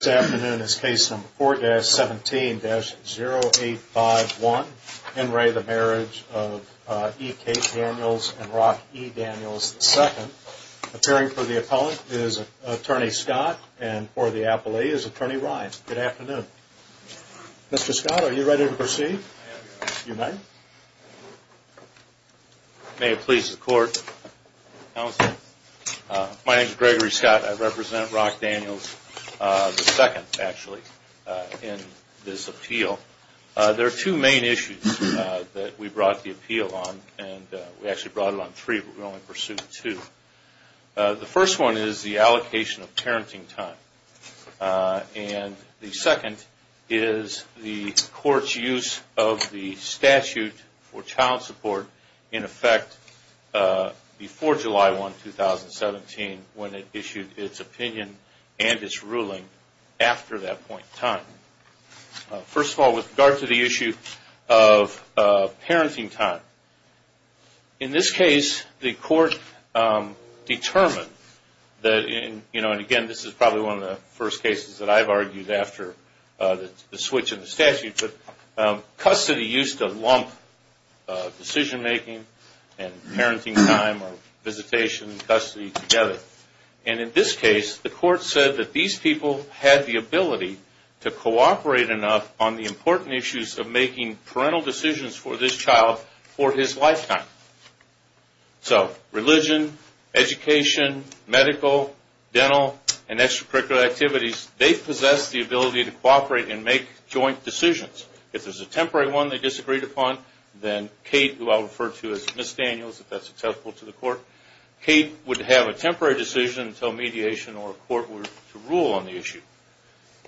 This afternoon is case number 4-17-0851, Henry the Marriage of E. Kate Daniels and Rock E. Daniels II. Appearing for the appellant is Attorney Scott and for the appellee is Attorney Ryan. Good afternoon. Mr. Scott, are you ready to proceed? I am, Your Honor. You may. May it please the Court. Counsel. My name is Gregory Scott. I represent Rock Daniels II, actually, in this appeal. There are two main issues that we brought the appeal on. We actually brought it on three, but we only pursued two. The first one is the allocation of parenting time. And the second is the Court's use of the statute for child support in effect before July 1, 2017, when it issued its opinion and its ruling after that point in time. First of all, with regard to the issue of parenting time, in this case, the Court determined that, you know, and again, this is probably one of the first cases that I've argued after the switch in the statute, but custody used to lump decision-making and parenting time or visitation and custody together. And in this case, the Court said that these people had the ability to cooperate enough on the important issues of making parental decisions for this child for his lifetime. So religion, education, medical, dental, and extracurricular activities, they possess the ability to cooperate and make joint decisions. If there's a temporary one they disagreed upon, then Kate, who I'll refer to as Ms. Daniels, if that's acceptable to the Court, Kate would have a temporary decision until mediation or a Court were to rule on the issue.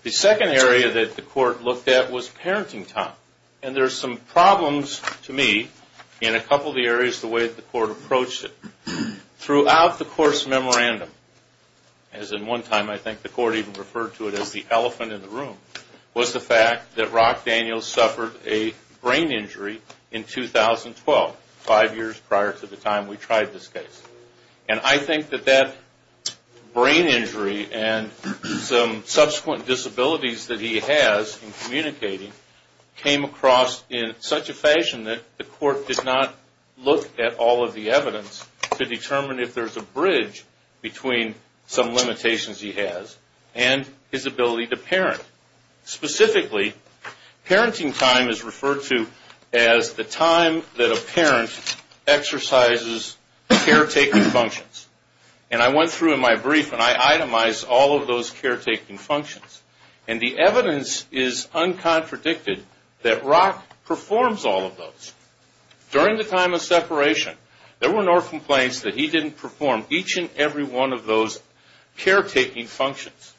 The second area that the Court looked at was parenting time. And there's some problems to me in a couple of the areas the way that the Court approached it. Throughout the Court's memorandum, as in one time I think the Court even referred to it as the elephant in the room, was the fact that Rock Daniels suffered a brain injury in 2012, five years prior to the time we tried this case. And I think that that brain injury and some subsequent disabilities that he has in communicating came across in such a fashion that the Court did not look at all of the evidence to determine if there's a bridge between some limitations he has and his ability to parent. Specifically, parenting time is referred to as the time that a parent exercises caretaking functions. And I went through in my brief and I itemized all of those caretaking functions. And the evidence is uncontradicted that Rock performs all of those. During the time of separation, there were no complaints that he didn't perform each and every one of those caretaking functions.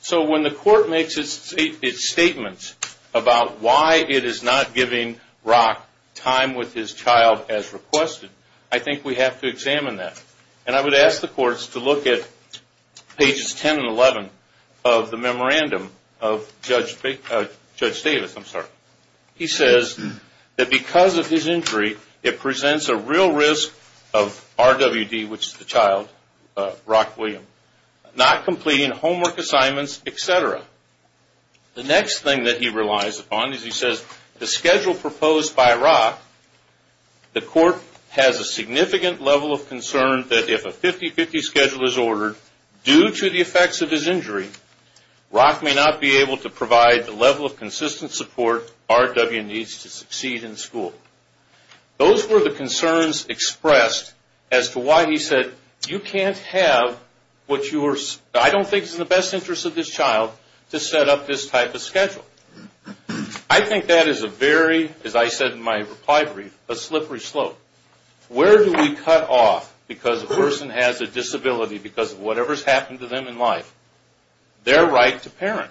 So when the Court makes its statement about why it is not giving Rock time with his child as requested, I think we have to examine that. And I would ask the Courts to look at pages 10 and 11 of the memorandum of Judge Davis. He says that because of his injury, it presents a real risk of RWD, which is the child, Rock Williams, not completing homework assignments, etc. The next thing that he relies upon is he says the schedule proposed by Rock, the Court has a significant level of concern that if a 50-50 schedule is ordered due to the effects of his injury, Rock may not be able to provide the level of consistent support RWD needs to succeed in school. Those were the concerns expressed as to why he said you can't have what you are, I don't think it's in the best interest of this child to set up this type of schedule. I think that is a very, as I said in my reply brief, a slippery slope. Where do we cut off because a person has a disability because of whatever has happened to them in life? Their right to parent.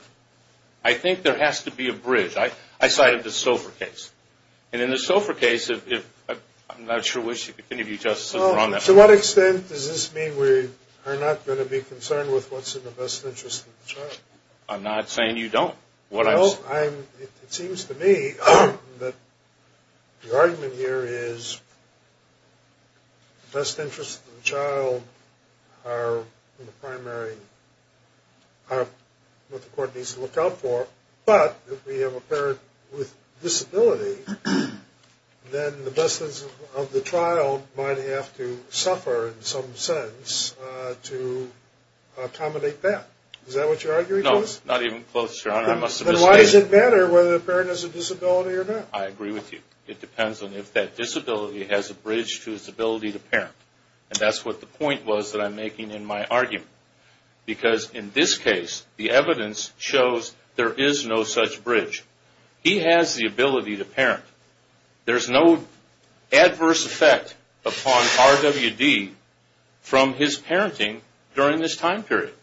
I think there has to be a bridge. I cited the SOFR case. And in the SOFR case, I'm not sure which of you, Justice, are on that. To what extent does this mean we are not going to be concerned with what's in the best interest of the child? I'm not saying you don't. It seems to me that the argument here is the best interests of the child are in the primary, are what the court needs to look out for. But if we have a parent with a disability, then the best interest of the child might have to suffer in some sense to accommodate that. Is that what you're arguing, Justice? No, not even close, Your Honor. Then why does it matter whether the parent has a disability or not? I agree with you. It depends on if that disability has a bridge to its ability to parent. And that's what the point was that I'm making in my argument. Because in this case, the evidence shows there is no such bridge. He has the ability to parent. There's no adverse effect upon RWD from his parenting during this time period.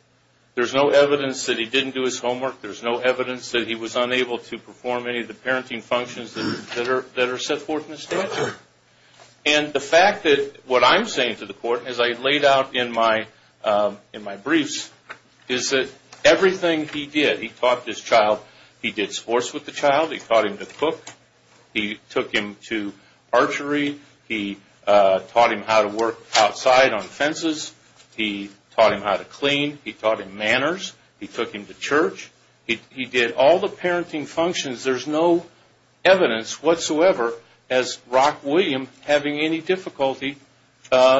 There's no evidence that he didn't do his homework. There's no evidence that he was unable to perform any of the parenting functions that are set forth in the statute. And the fact that what I'm saying to the court, as I laid out in my briefs, is that everything he did, he taught this child. He did sports with the child. He taught him to cook. He took him to archery. He taught him how to work outside on fences. He taught him how to clean. He taught him manners. He took him to church. He did all the parenting functions. There's no evidence whatsoever as Rock William having any difficulty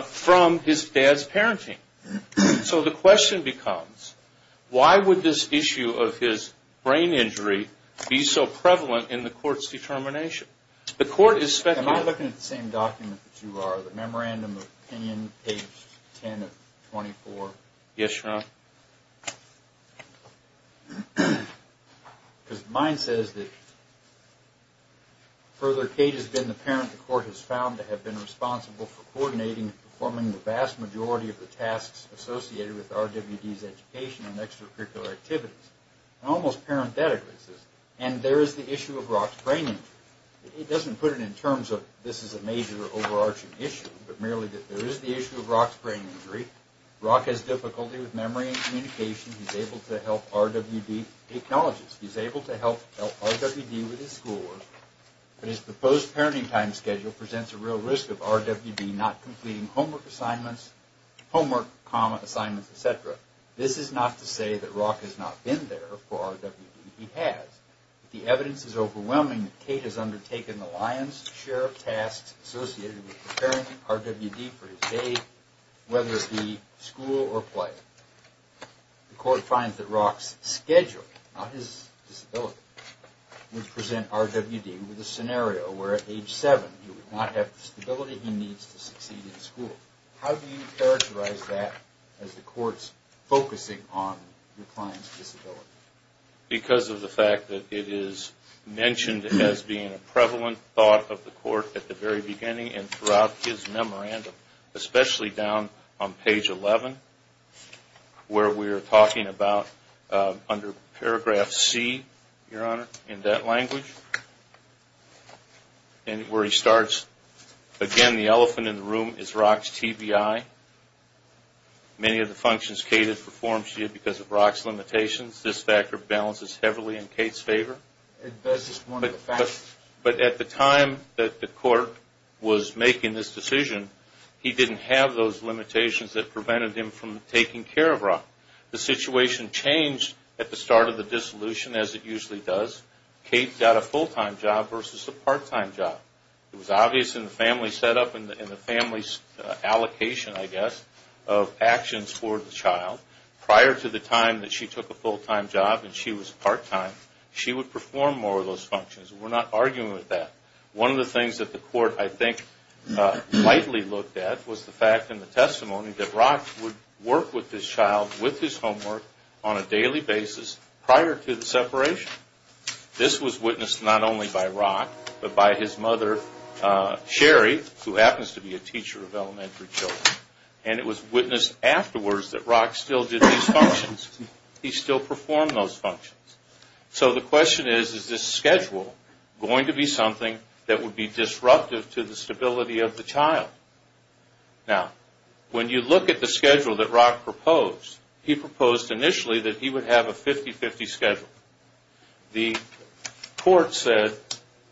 from his dad's parenting. So the question becomes, why would this issue of his brain injury be so prevalent in the court's determination? The court is speculating. Can I look at the same document that you are, the Memorandum of Opinion, page 10 of 24? Yes, Your Honor. Because mine says that, further, Kate has been the parent the court has found to have been responsible for coordinating and performing the vast majority of the tasks associated with RWD's education and extracurricular activities. And almost parenthetically, it says, and there is the issue of Rock's brain injury. It doesn't put it in terms of this is a major overarching issue, but merely that there is the issue of Rock's brain injury. Rock has difficulty with memory and communication. He's able to help RWD take knowledge. He's able to help RWD with his schoolwork. But his proposed parenting time schedule presents a real risk of RWD not completing homework assignments, homework, comma, assignments, et cetera. This is not to say that Rock has not been there for RWD. He has. The evidence is overwhelming that Kate has undertaken the lion's share of tasks associated with preparing RWD for his day, whether it be school or play. The court finds that Rock's schedule, not his disability, would present RWD with a scenario where at age 7, he would not have the stability he needs to succeed in school. How do you characterize that as the court's focusing on your client's disability? Because of the fact that it is mentioned as being a prevalent thought of the court at the very beginning and throughout his memorandum, especially down on page 11, where we are talking about under paragraph C, Your Honor, in that language, and where he starts, again, the elephant in the room is Rock's TBI. Many of the functions Kate has performed to you because of Rock's limitations. This factor balances heavily in Kate's favor. But at the time that the court was making this decision, he didn't have those limitations that prevented him from taking care of Rock. The situation changed at the start of the dissolution, as it usually does. Kate got a full-time job versus a part-time job. It was obvious in the family setup and the family's allocation, I guess, of actions for the child. Prior to the time that she took a full-time job and she was part-time, she would perform more of those functions. We're not arguing with that. One of the things that the court, I think, lightly looked at was the fact in the testimony that Rock would work with this child, with his homework, on a daily basis prior to the separation. This was witnessed not only by Rock, but by his mother, Sherry, who happens to be a teacher of elementary children. And it was witnessed afterwards that Rock still did these functions. He still performed those functions. So the question is, is this schedule going to be something that would be disruptive to the stability of the child? Now, when you look at the schedule that Rock proposed, he proposed initially that he would have a 50-50 schedule. The court said,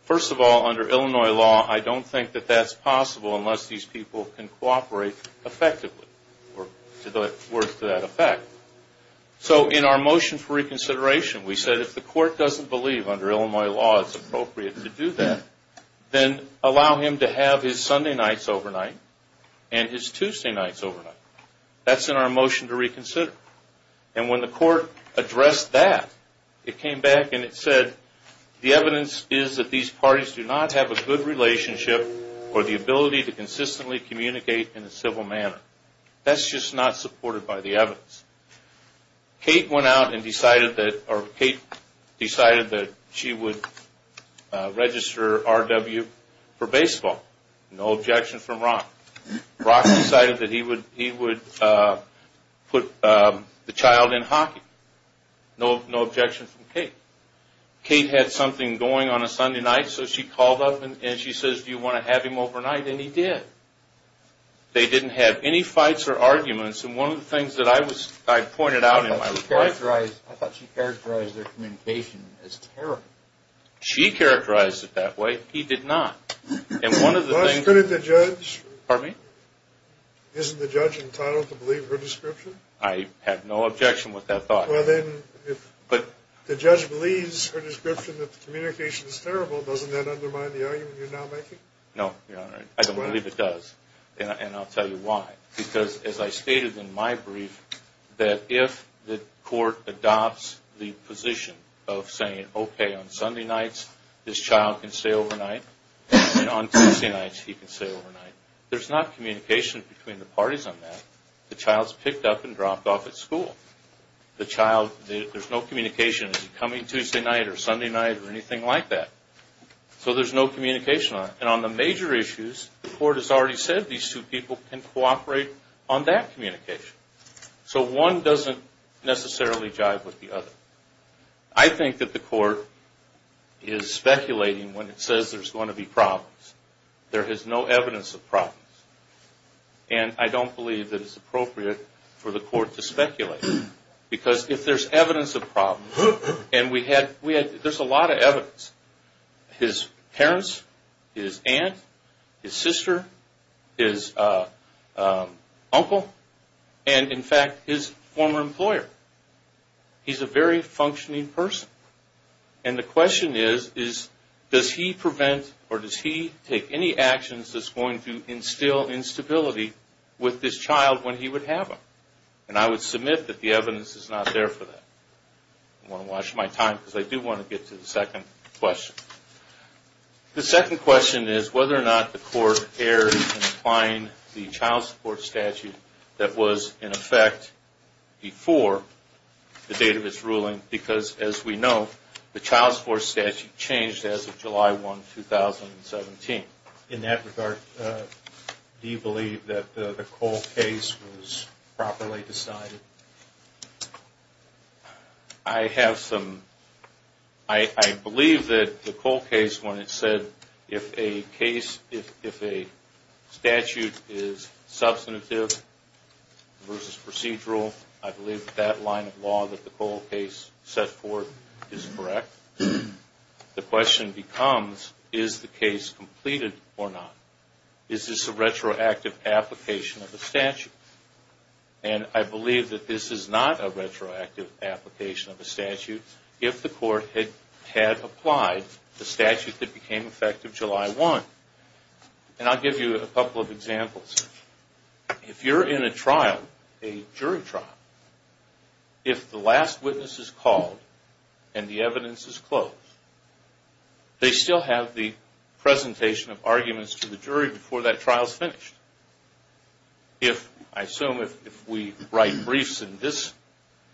first of all, under Illinois law, I don't think that that's possible unless these people can cooperate effectively or work to that effect. So in our motion for reconsideration, we said if the court doesn't believe under Illinois law it's appropriate to do that, then allow him to have his Sunday nights overnight and his Tuesday nights overnight. That's in our motion to reconsider. And when the court addressed that, it came back and it said the evidence is that these parties do not have a good relationship or the ability to consistently communicate in a civil manner. That's just not supported by the evidence. Kate went out and decided that she would register R.W. for baseball. No objection from Rock. Rock decided that he would put the child in hockey. No objection from Kate. Kate had something going on a Sunday night, so she called up and she says, do you want to have him overnight? And he did. They didn't have any fights or arguments. And one of the things that I pointed out in my reply... I thought she characterized their communication as terrible. She characterized it that way. He did not. And one of the things... Last minute, the judge... Pardon me? Isn't the judge entitled to believe her description? I have no objection with that thought. Well, then, if the judge believes her description that the communication is terrible, doesn't that undermine the argument you're now making? No, Your Honor. I don't believe it does. And I'll tell you why. Because, as I stated in my brief, that if the court adopts the position of saying, okay, on Sunday nights this child can stay overnight, and on Tuesday nights he can stay overnight, there's not communication between the parties on that. The child's picked up and dropped off at school. There's no communication. Is he coming Tuesday night or Sunday night or anything like that? So there's no communication. And on the major issues, the court has already said these two people can cooperate on that communication. So one doesn't necessarily jive with the other. I think that the court is speculating when it says there's going to be problems. There is no evidence of problems. And I don't believe that it's appropriate for the court to speculate. Because if there's evidence of problems, and we had – there's a lot of evidence. His parents, his aunt, his sister, his uncle, and, in fact, his former employer. He's a very functioning person. And the question is, does he prevent or does he take any actions that's going to instill instability with this child when he would have them? And I would submit that the evidence is not there for that. I don't want to waste my time because I do want to get to the second question. The second question is whether or not the court erred in applying the child support statute that was in effect before the date of its ruling. Because, as we know, the child support statute changed as of July 1, 2017. In that regard, do you believe that the Cole case was properly decided? I have some – I believe that the Cole case, when it said, if a case – if a statute is substantive versus procedural, I believe that that line of law that the Cole case set forth is correct. The question becomes, is the case completed or not? Is this a retroactive application of a statute? And I believe that this is not a retroactive application of a statute. If the court had applied the statute that became effective July 1. And I'll give you a couple of examples. If you're in a trial, a jury trial, if the last witness is called and the evidence is closed, they still have the presentation of arguments to the jury before that trial is finished. If – I assume if we write briefs in this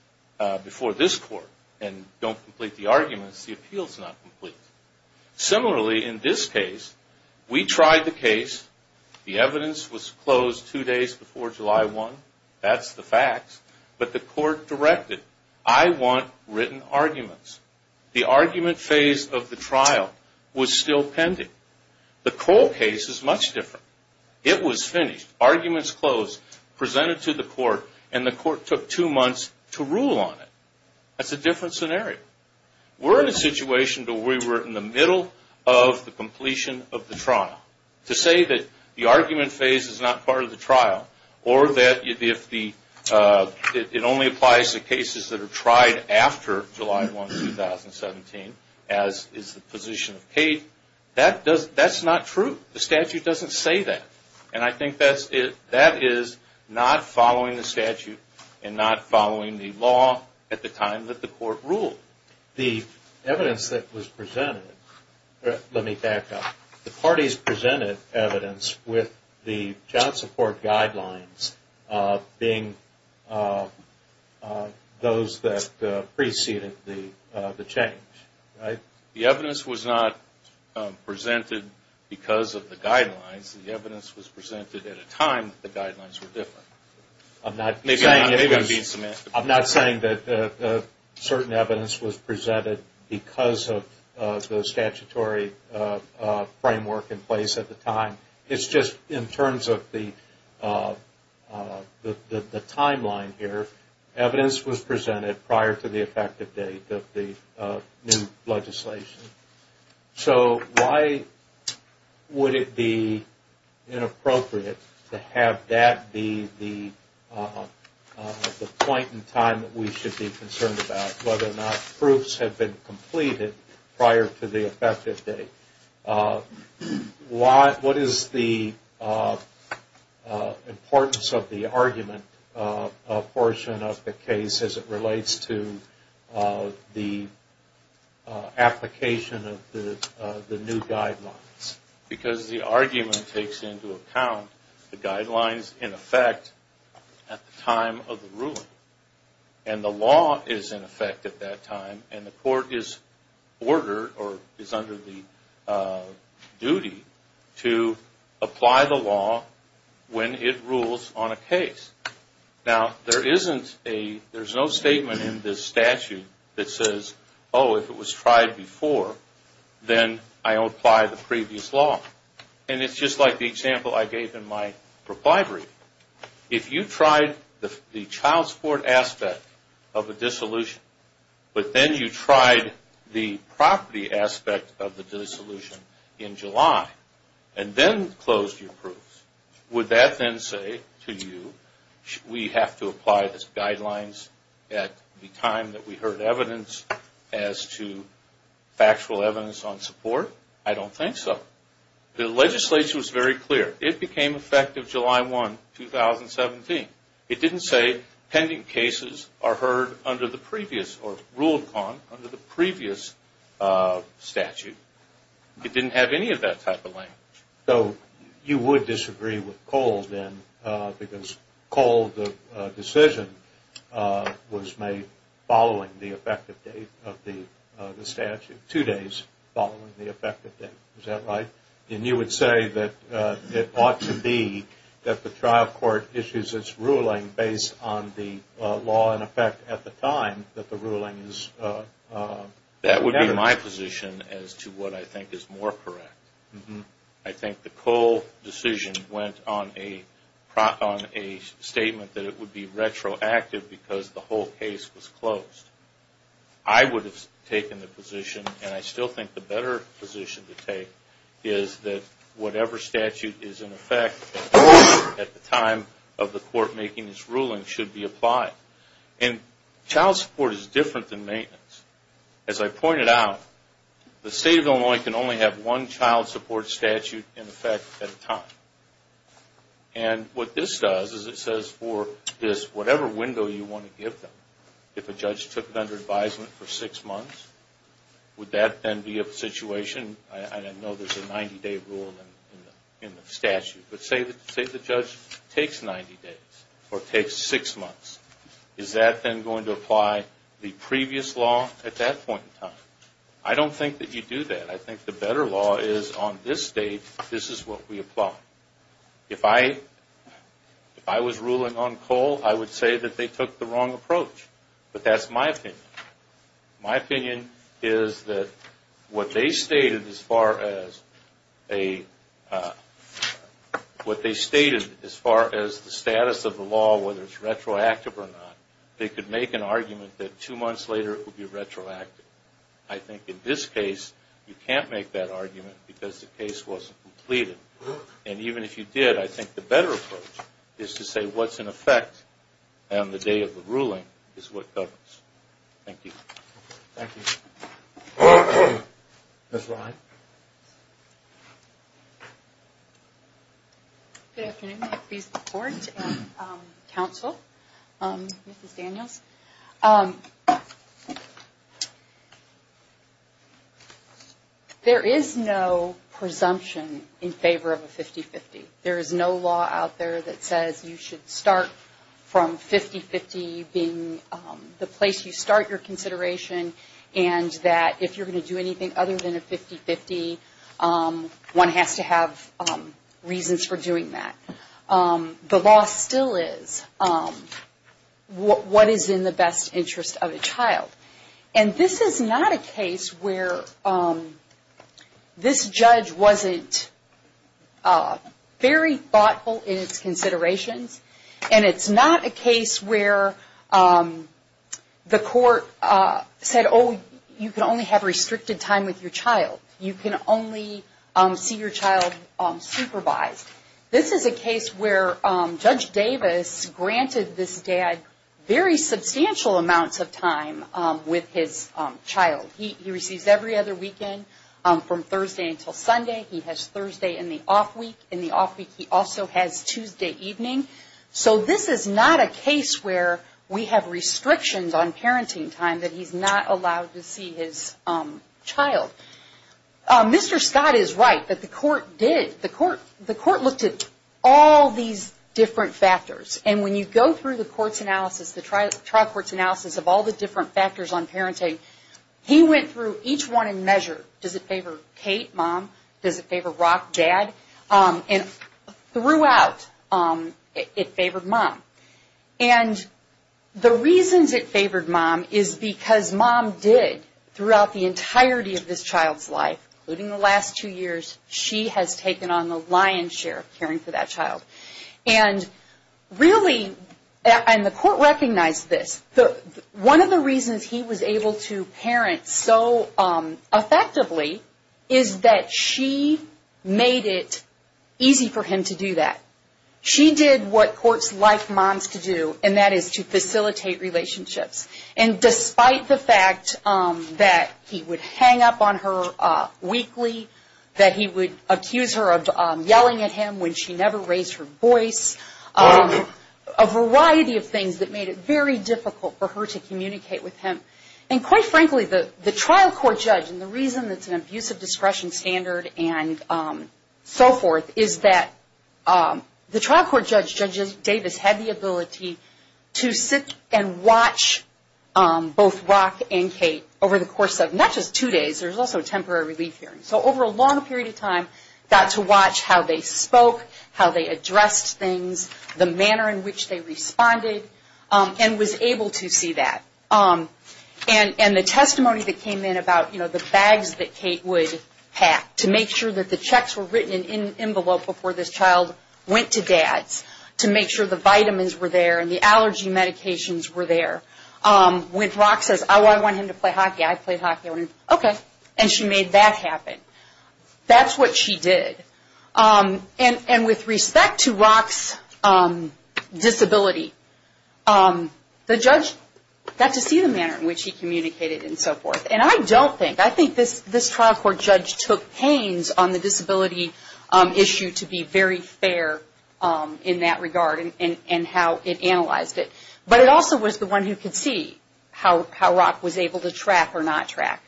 – before this court and don't complete the arguments, the appeal is not complete. Similarly, in this case, we tried the case. The evidence was closed two days before July 1. That's the facts. But the court directed, I want written arguments. The argument phase of the trial was still pending. The Cole case is much different. It was finished. Arguments closed, presented to the court, and the court took two months to rule on it. That's a different scenario. We're in a situation where we were in the middle of the completion of the trial. To say that the argument phase is not part of the trial, or that if the – it only applies to cases that are tried after July 1, 2017, as is the position of Kate, that's not true. The statute doesn't say that. And I think that is not following the statute and not following the law at the time that the court ruled. The evidence that was presented – let me back up. The parties presented evidence with the child support guidelines being those that preceded the change. The evidence was not presented because of the guidelines. The evidence was presented at a time that the guidelines were different. I'm not saying that certain evidence was presented because of the statutory framework in place at the time. It's just in terms of the timeline here, the evidence was presented prior to the effective date of the new legislation. So why would it be inappropriate to have that be the point in time that we should be concerned about, whether or not proofs have been completed prior to the effective date? What is the importance of the argument portion of the case as it relates to the application of the new guidelines? Because the argument takes into account the guidelines in effect at the time of the ruling. And the law is in effect at that time, and the court is ordered or is under the duty to apply the law when it rules on a case. Now, there's no statement in this statute that says, oh, if it was tried before, then I apply the previous law. And it's just like the example I gave in my reply brief. If you tried the child support aspect of a dissolution, but then you tried the property aspect of the dissolution in July, and then closed your proofs, would that then say to you, we have to apply these guidelines at the time that we heard evidence as to factual evidence on support? I don't think so. The legislation was very clear. It became effective July 1, 2017. It didn't say pending cases are heard under the previous or ruled on under the previous statute. It didn't have any of that type of language. So you would disagree with Cole, then, because Cole, the decision was made following the effective date of the statute, two days following the effective date. Is that right? And you would say that it ought to be that the trial court issues its ruling based on the law, in effect, at the time that the ruling is made. That would be my position as to what I think is more correct. I think the Cole decision went on a statement that it would be retroactive because the whole case was closed. I would have taken the position, and I still think the better position to take, is that whatever statute is in effect at the time of the court making its ruling should be applied. And child support is different than maintenance. As I pointed out, the State of Illinois can only have one child support statute in effect at a time. And what this does is it says for this, whatever window you want to give them, if a judge took it under advisement for six months, would that then be a situation? I know there's a 90-day rule in the statute, but say the judge takes 90 days or takes six months. Is that then going to apply the previous law at that point in time? I don't think that you do that. I think the better law is on this date, this is what we apply. If I was ruling on Cole, I would say that they took the wrong approach. But that's my opinion. My opinion is that what they stated as far as the status of the law, whether it's retroactive or not, they could make an argument that two months later it would be retroactive. I think in this case, you can't make that argument because the case wasn't completed. And even if you did, I think the better approach is to say what's in effect on the day of the ruling is what governs. Thank you. Thank you. Ms. Ryan. Good afternoon. I please the Court and counsel, Mrs. Daniels. There is no presumption in favor of a 50-50. There is no law out there that says you should start from 50-50 being the place you start your consideration and that if you're going to do anything other than a 50-50, one has to have reasons for doing that. The law still is what is in the best interest of a child. And this is not a case where this judge wasn't very thoughtful in its considerations. And it's not a case where the Court said, oh, you can only have restricted time with your child. You can only see your child supervised. This is a case where Judge Davis granted this dad very substantial amounts of time with his child. He receives every other weekend from Thursday until Sunday. He has Thursday in the off week. In the off week, he also has Tuesday evening. So this is not a case where we have restrictions on parenting time that he's not allowed to see his child. Mr. Scott is right that the Court looked at all these different factors. And when you go through the trial court's analysis of all the different factors on parenting, he went through each one in measure. Does it favor Kate, mom? Does it favor Rock, dad? And throughout, it favored mom. And the reasons it favored mom is because mom did throughout the entirety of this child's life, including the last two years, she has taken on the lion's share of caring for that child. And really, and the Court recognized this. One of the reasons he was able to parent so effectively is that she made it easy for him to do that. She did what courts like moms to do, and that is to facilitate relationships. And despite the fact that he would hang up on her weekly, that he would accuse her of yelling at him when she never raised her voice, a variety of things that made it very difficult for her to communicate with him. And quite frankly, the trial court judge, and the reason it's an abusive discretion standard and so forth, is that the trial court judge, Judge Davis, had the ability to sit and watch both Rock and Kate over the course of not just two days. There's also a temporary relief hearing. So over a long period of time, got to watch how they spoke, how they addressed things, the manner in which they responded, and was able to see that. And the testimony that came in about, you know, the bags that Kate would pack, to make sure that the checks were written in an envelope before this child went to dad's, to make sure the vitamins were there and the allergy medications were there. When Rock says, oh, I want him to play hockey. I play hockey. Okay. And she made that happen. That's what she did. And with respect to Rock's disability, the judge got to see the manner in which he communicated and so forth. And I don't think, I think this trial court judge took pains on the disability issue to be very fair in that regard and how it analyzed it. But it also was the one who could see how Rock was able to track or not track.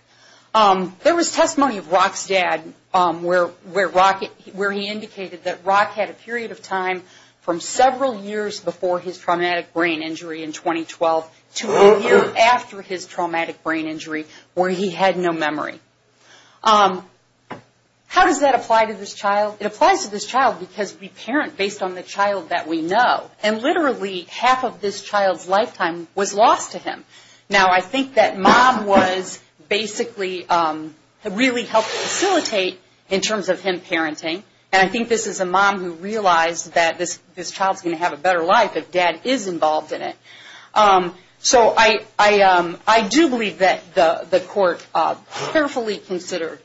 There was testimony of Rock's dad where he indicated that Rock had a period of time from several years before his traumatic brain injury in 2012 to a year after his traumatic brain injury where he had no memory. How does that apply to this child? It applies to this child because we parent based on the child that we know. And literally half of this child's lifetime was lost to him. Now, I think that mom was basically really helped facilitate in terms of him parenting. And I think this is a mom who realized that this child is going to have a better life if dad is involved in it. So I do believe that the court carefully considered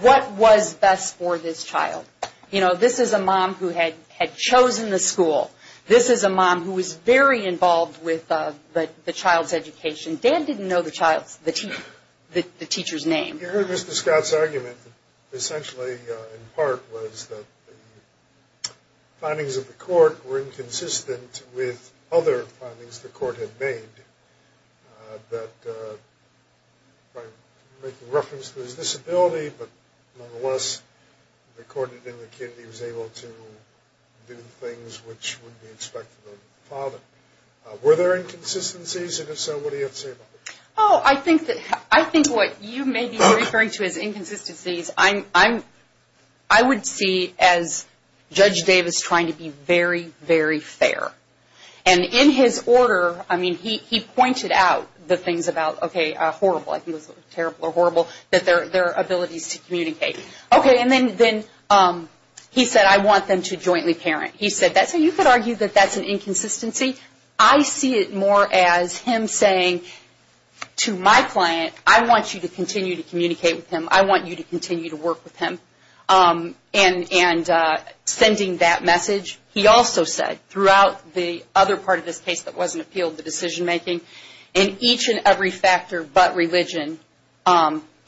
what was best for this child. You know, this is a mom who had chosen the school. This is a mom who was very involved with the child's education. Dan didn't know the child's, the teacher's name. You heard Mr. Scott's argument that essentially in part was that the findings of the court were inconsistent with other findings the court had made. That by making reference to his disability, but nonetheless according to him the kid was able to do things which would be expected of the father. Were there inconsistencies? And if so, what do you have to say about that? Oh, I think what you may be referring to as inconsistencies, I would see as Judge Davis trying to be very, very fair. And in his order, I mean, he pointed out the things about, okay, horrible, I think it was terrible or horrible, that their abilities to communicate. Okay, and then he said, I want them to jointly parent. He said, that's how you could argue that that's an inconsistency. I see it more as him saying to my client, I want you to continue to communicate with him. I want you to continue to work with him. And sending that message, he also said throughout the other part of this case that wasn't appealed, the decision-making, in each and every factor but religion,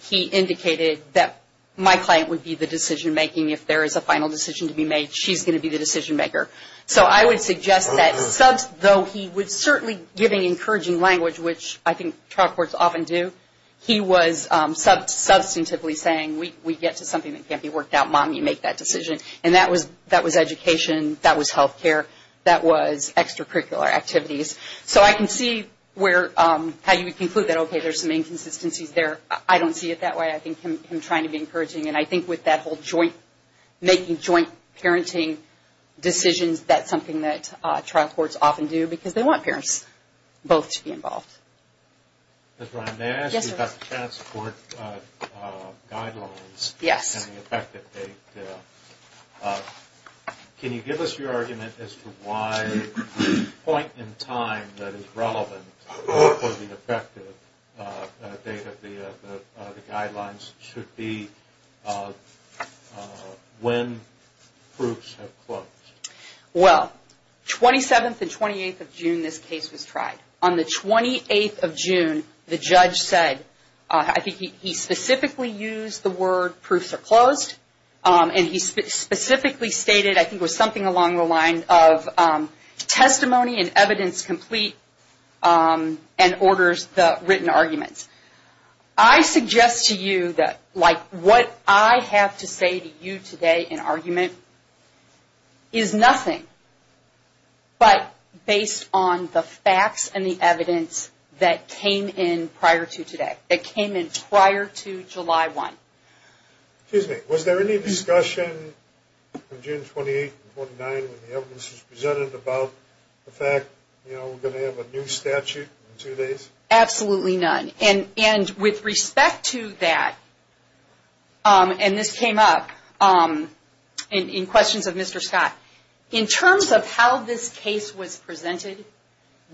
he indicated that my client would be the decision-making. If there is a final decision to be made, she's going to be the decision-maker. So I would suggest that, though he was certainly giving encouraging language, which I think trial courts often do, he was substantively saying, we get to something that can't be worked out, mom, you make that decision. And that was education, that was health care, that was extracurricular activities. So I can see how you would conclude that, okay, there's some inconsistencies there. I don't see it that way. I think him trying to be encouraging. And I think with that whole joint, making joint parenting decisions, that's something that trial courts often do because they want parents both to be involved. Ms. Ryan, may I ask you about the transport guidelines and the effective date? Can you give us your argument as to why the point in time that is relevant for the effective date of the guidelines should be when proofs are closed? Well, 27th and 28th of June, this case was tried. On the 28th of June, the judge said, I think he specifically used the word proofs are closed, and he specifically stated, I think it was something along the line of testimony and evidence complete and orders the written arguments. I suggest to you that, like, what I have to say to you today in argument is nothing but based on the facts and the evidence that came in prior to today, that came in prior to July 1. Excuse me. Was there any discussion on June 28th and 29th when the evidence was presented about the fact, you know, we're going to have a new statute in two days? Absolutely none. And with respect to that, and this came up in questions of Mr. Scott. In terms of how this case was presented,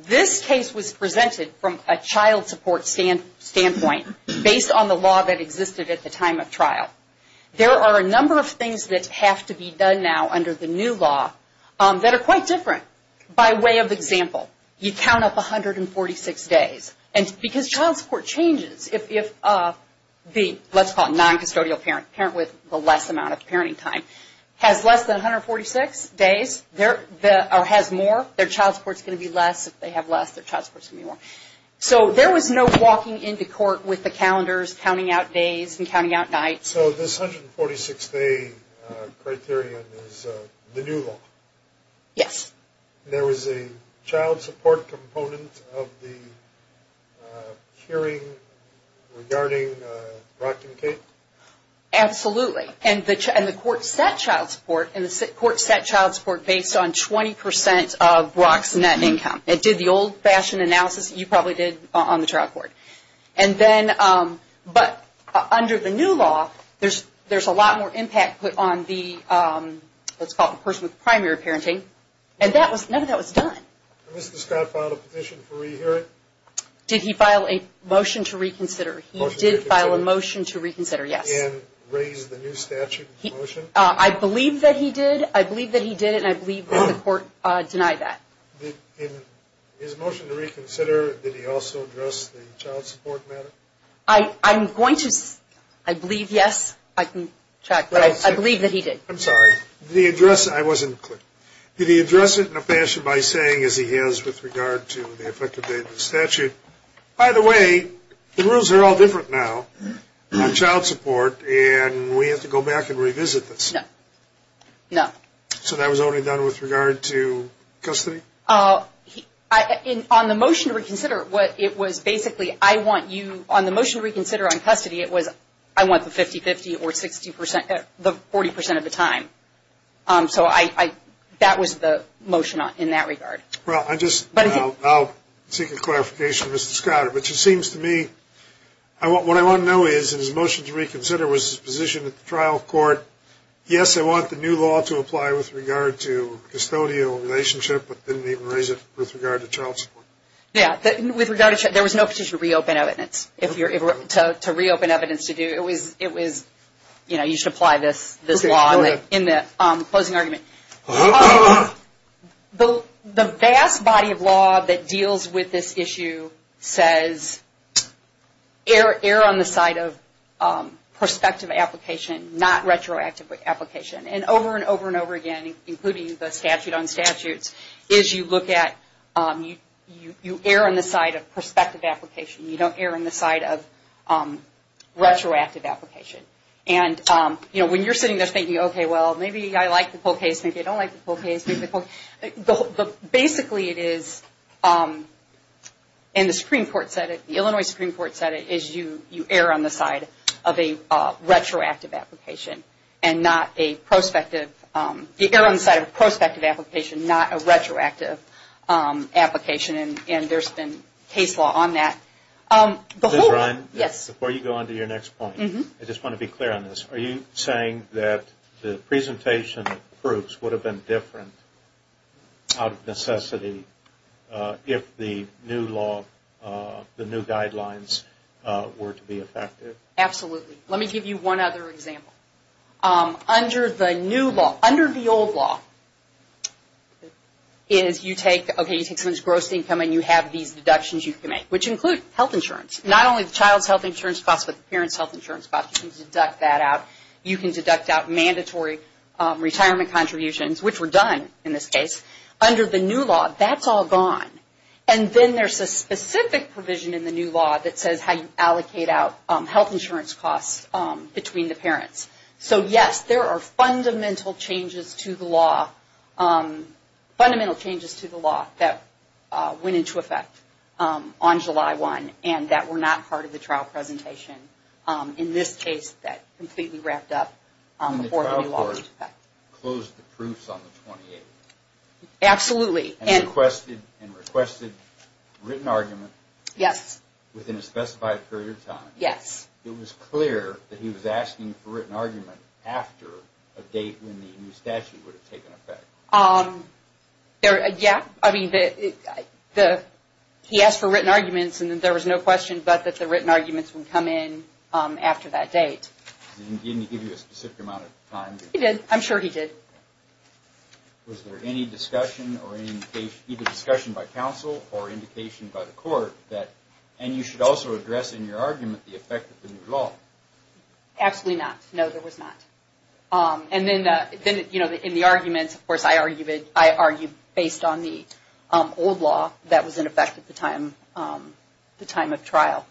this case was presented from a child support standpoint based on the law that existed at the time of trial. There are a number of things that have to be done now under the new law that are quite different. By way of example, you count up 146 days. And because child support changes, if the, let's call it non-custodial parent, parent with the less amount of parenting time, has less than 146 days or has more, their child support is going to be less. If they have less, their child support is going to be more. So there was no walking into court with the calendars, counting out days and counting out nights. So this 146-day criterion is the new law? Yes. There was a child support component of the hearing regarding Brock and Kate? Absolutely. And the court set child support, and the court set child support based on 20% of Brock's net income. It did the old-fashioned analysis that you probably did on the trial court. But under the new law, there's a lot more impact put on the, let's call it, person with primary parenting. And none of that was done. Did Mr. Scott file a petition for re-hearing? Did he file a motion to reconsider? He did file a motion to reconsider, yes. And raise the new statute motion? I believe that he did. I believe that he did, and I believe that the court denied that. In his motion to reconsider, did he also address the child support matter? I'm going to, I believe, yes. I can check, but I believe that he did. I'm sorry. Did he address, I wasn't clear. Did he address it in a fashion by saying, as he has with regard to the effective date of the statute, by the way, the rules are all different now on child support, and we have to go back and revisit this. No. So that was only done with regard to custody? On the motion to reconsider, it was basically, I want you, on the motion to reconsider on custody, it was I want the 50-50 or the 40% of the time. So that was the motion in that regard. Well, I'll seek a clarification from Mr. Scott. But it seems to me, what I want to know is, in his motion to reconsider, was his position at the trial court, yes, I want the new law to apply with regard to custodial relationship, but didn't even raise it with regard to child support? Yeah. With regard to, there was no petition to reopen evidence. If you're, to reopen evidence to do, it was, you know, you should apply this law in the closing argument. The vast body of law that deals with this issue says, err on the side of prospective application, not retroactive application. And over and over and over again, including the statute on statutes, is you look at, you err on the side of prospective application. You don't err on the side of retroactive application. And, you know, when you're sitting there thinking, okay, well, maybe I like the whole case, maybe I don't like the whole case. Basically it is, and the Supreme Court said it, the Illinois Supreme Court said it, is you err on the side of a retroactive application and not a prospective, you err on the side of a prospective application, not a retroactive application. And there's been case law on that. Before you go on to your next point, I just want to be clear on this. Are you saying that the presentation of proofs would have been different out of necessity if the new law, the new guidelines were to be effective? Absolutely. Let me give you one other example. Under the new law, under the old law, is you take, okay, you take someone's gross income and you have these deductions you can make, which include health insurance. Not only the child's health insurance costs, but the parent's health insurance costs. You can deduct that out. You can deduct out mandatory retirement contributions, which were done in this case. Under the new law, that's all gone. And then there's a specific provision in the new law that says how you allocate out health insurance costs between the parents. So, yes, there are fundamental changes to the law that went into effect on July 1 and that were not part of the trial presentation. In this case, that completely wrapped up before the new law went into effect. And the trial court closed the proofs on the 28th. Absolutely. And requested written argument within a specified period of time. Yes. It was clear that he was asking for written argument after a date when the new statute would have taken effect. Yes. I mean, he asked for written arguments and there was no question but that the written arguments would come in after that date. Didn't he give you a specific amount of time? He did. I'm sure he did. Was there any discussion or any indication, either discussion by counsel or indication by the court, that you should also address in your argument the effect of the new law? Absolutely not. No, there was not. And then in the arguments, of course, I argued based on the old law that was in effect at the time of trial.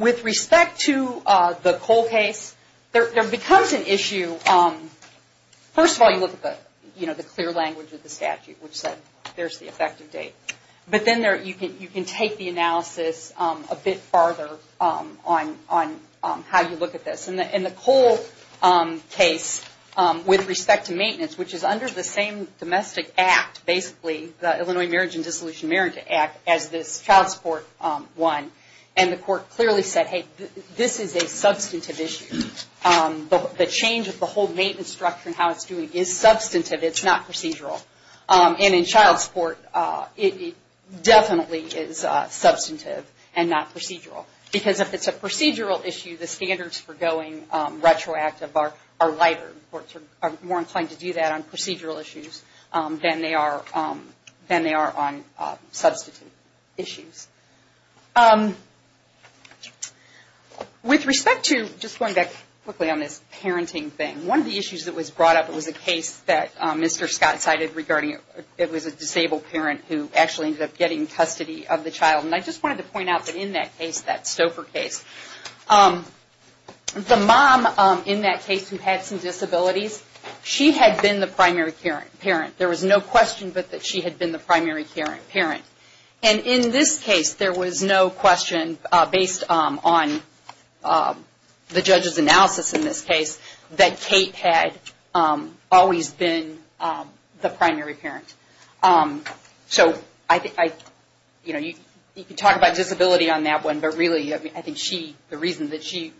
With respect to the Cole case, there becomes an issue. First of all, you look at the clear language of the statute, which said there's the effective date. But then you can take the analysis a bit farther on how you look at this. In the Cole case, with respect to maintenance, which is under the same domestic act, basically, the Illinois Marriage and Dissolution of Marriage Act, as this child support one, and the court clearly said, hey, this is a substantive issue. The change of the whole maintenance structure and how it's doing is substantive. It's not procedural. And in child support, it definitely is substantive and not procedural. Because if it's a procedural issue, the standards for going retroactive are lighter. Courts are more inclined to do that on procedural issues than they are on substantive issues. With respect to, just going back quickly on this parenting thing, one of the issues that was brought up was a case that Mr. Scott cited regarding it was a disabled parent who actually ended up getting custody of the child. And I just wanted to point out that in that case, that Stouffer case, the mom in that case who had some disabilities, she had been the primary parent. There was no question but that she had been the primary parent. And in this case, there was no question based on the judge's analysis in this case, that Kate had always been the primary parent. So you can talk about disability on that one, but really, I think the reason that she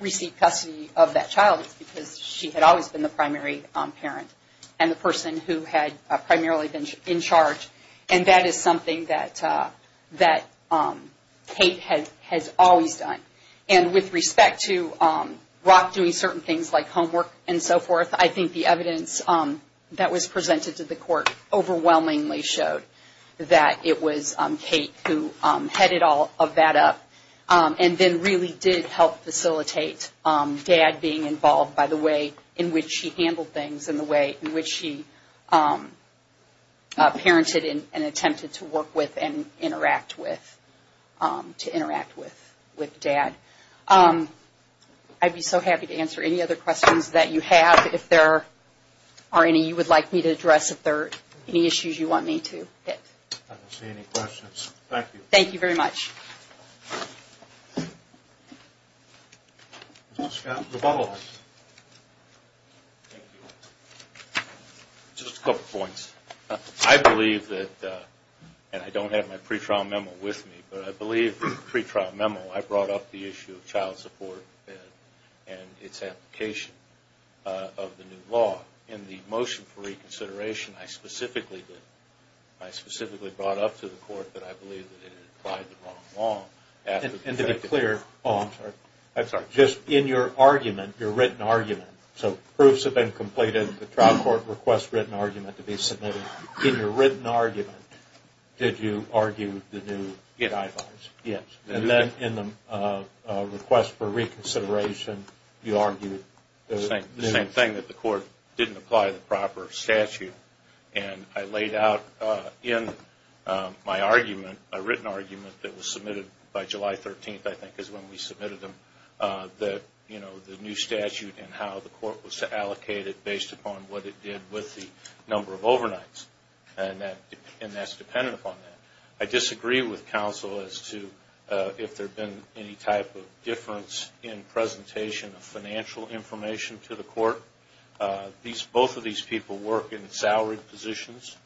received custody of that child is because she had always been the primary parent And that is something that Kate has always done. And with respect to Rock doing certain things like homework and so forth, I think the evidence that was presented to the court overwhelmingly showed that it was Kate who headed all of that up. And then really did help facilitate Dad being involved by the way in which she handled things and the way in which she parented and attempted to work with and interact with Dad. I'd be so happy to answer any other questions that you have. If there are any you would like me to address, if there are any issues you want me to hit. I don't see any questions. Thank you. Thank you very much. Scott, the bottle. Thank you. Just a couple points. I believe that, and I don't have my pre-trial memo with me, but I believe in the pre-trial memo, I brought up the issue of child support and its application of the new law. In the motion for reconsideration, I specifically did. And to be clear, just in your argument, your written argument, so proofs have been completed, the trial court requests written argument to be submitted. In your written argument, did you argue the new guidelines? Yes. And then in the request for reconsideration, you argued the new ones? The same thing, that the court didn't apply the proper statute. And I laid out in my written argument that was submitted by July 13th, I think, is when we submitted them, that the new statute and how the court was allocated based upon what it did with the number of overnights. And that's dependent upon that. I disagree with counsel as to if there had been any type of difference in presentation of financial information to the court. Both of these people work in salaried positions.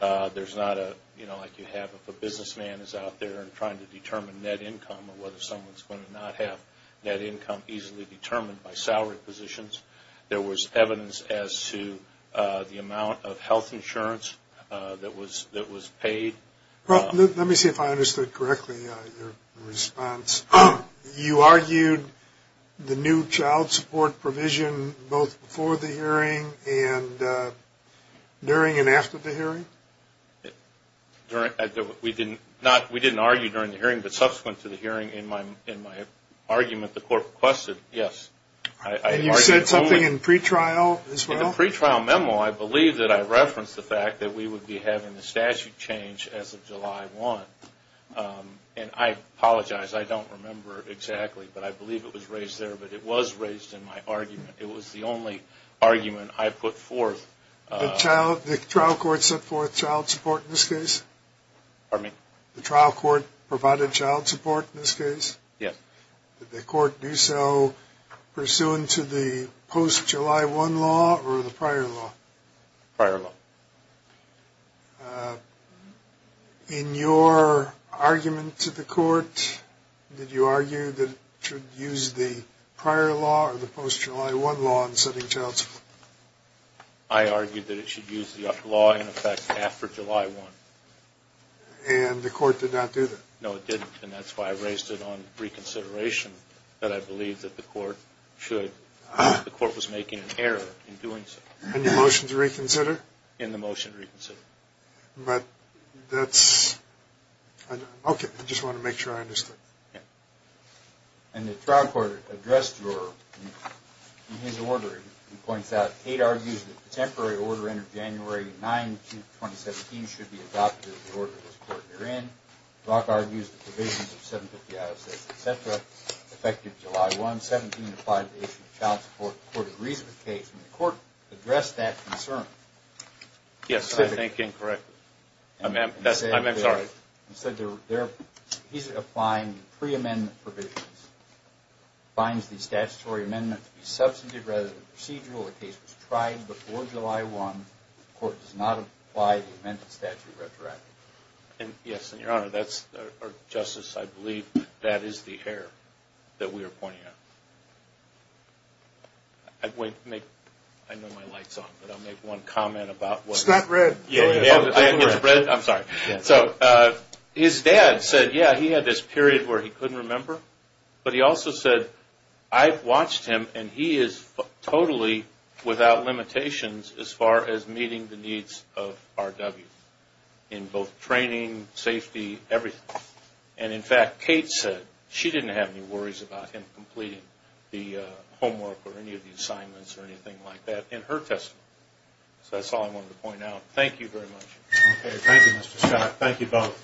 There's not a, you know, like you have if a businessman is out there trying to determine net income or whether someone's going to not have net income easily determined by salaried positions. There was evidence as to the amount of health insurance that was paid. Let me see if I understood correctly your response. You argued the new child support provision both before the hearing and during and after the hearing? We didn't argue during the hearing, but subsequent to the hearing in my argument, the court requested, yes. And you said something in the pretrial as well? In the pretrial memo, I believe that I referenced the fact that we would be having the statute change as of July 1. And I apologize, I don't remember exactly, but I believe it was raised there. But it was raised in my argument. It was the only argument I put forth. The trial court set forth child support in this case? The trial court provided child support in this case? Did the court do so pursuant to the post-July 1 law or the prior law? Prior law. In your argument to the court, did you argue that it should use the prior law or the post-July 1 law in setting child support? I argued that it should use the law in effect after July 1. And the court did not do that? No, it didn't, and that's why I raised it on reconsideration. But I believe that the court was making an error in doing so. In the motion to reconsider? In the motion to reconsider. Okay, I just wanted to make sure I understood. And the trial court addressed your, in his order, he points out, Tate argues that the temporary order entered January 9, 2017, should be adopted as the order this court therein. Brock argues that the provisions of 750-I-6-etc. effective July 1, 17, apply to the issue of child support in the court of reason case. And the court addressed that concern. Yes, I think incorrectly. He's applying pre-amendment provisions. He finds the statutory amendment to be substantive rather than procedural. The case was tried before July 1. The court does not apply the amended statute retroactively. Yes, and Your Honor, or Justice, I believe that is the error that we are pointing out. I know my light is on, but I'll make one comment. It's not red. His dad said, yeah, he had this period where he couldn't remember. But he also said, I've watched him, and he is totally without limitations as far as meeting the needs of RW. In both training, safety, everything. And in fact, Kate said she didn't have any worries about him completing the homework or any of the assignments or anything like that in her testimony. So that's all I wanted to point out. Thank you very much. Thank you, Mr. Scott. Thank you both.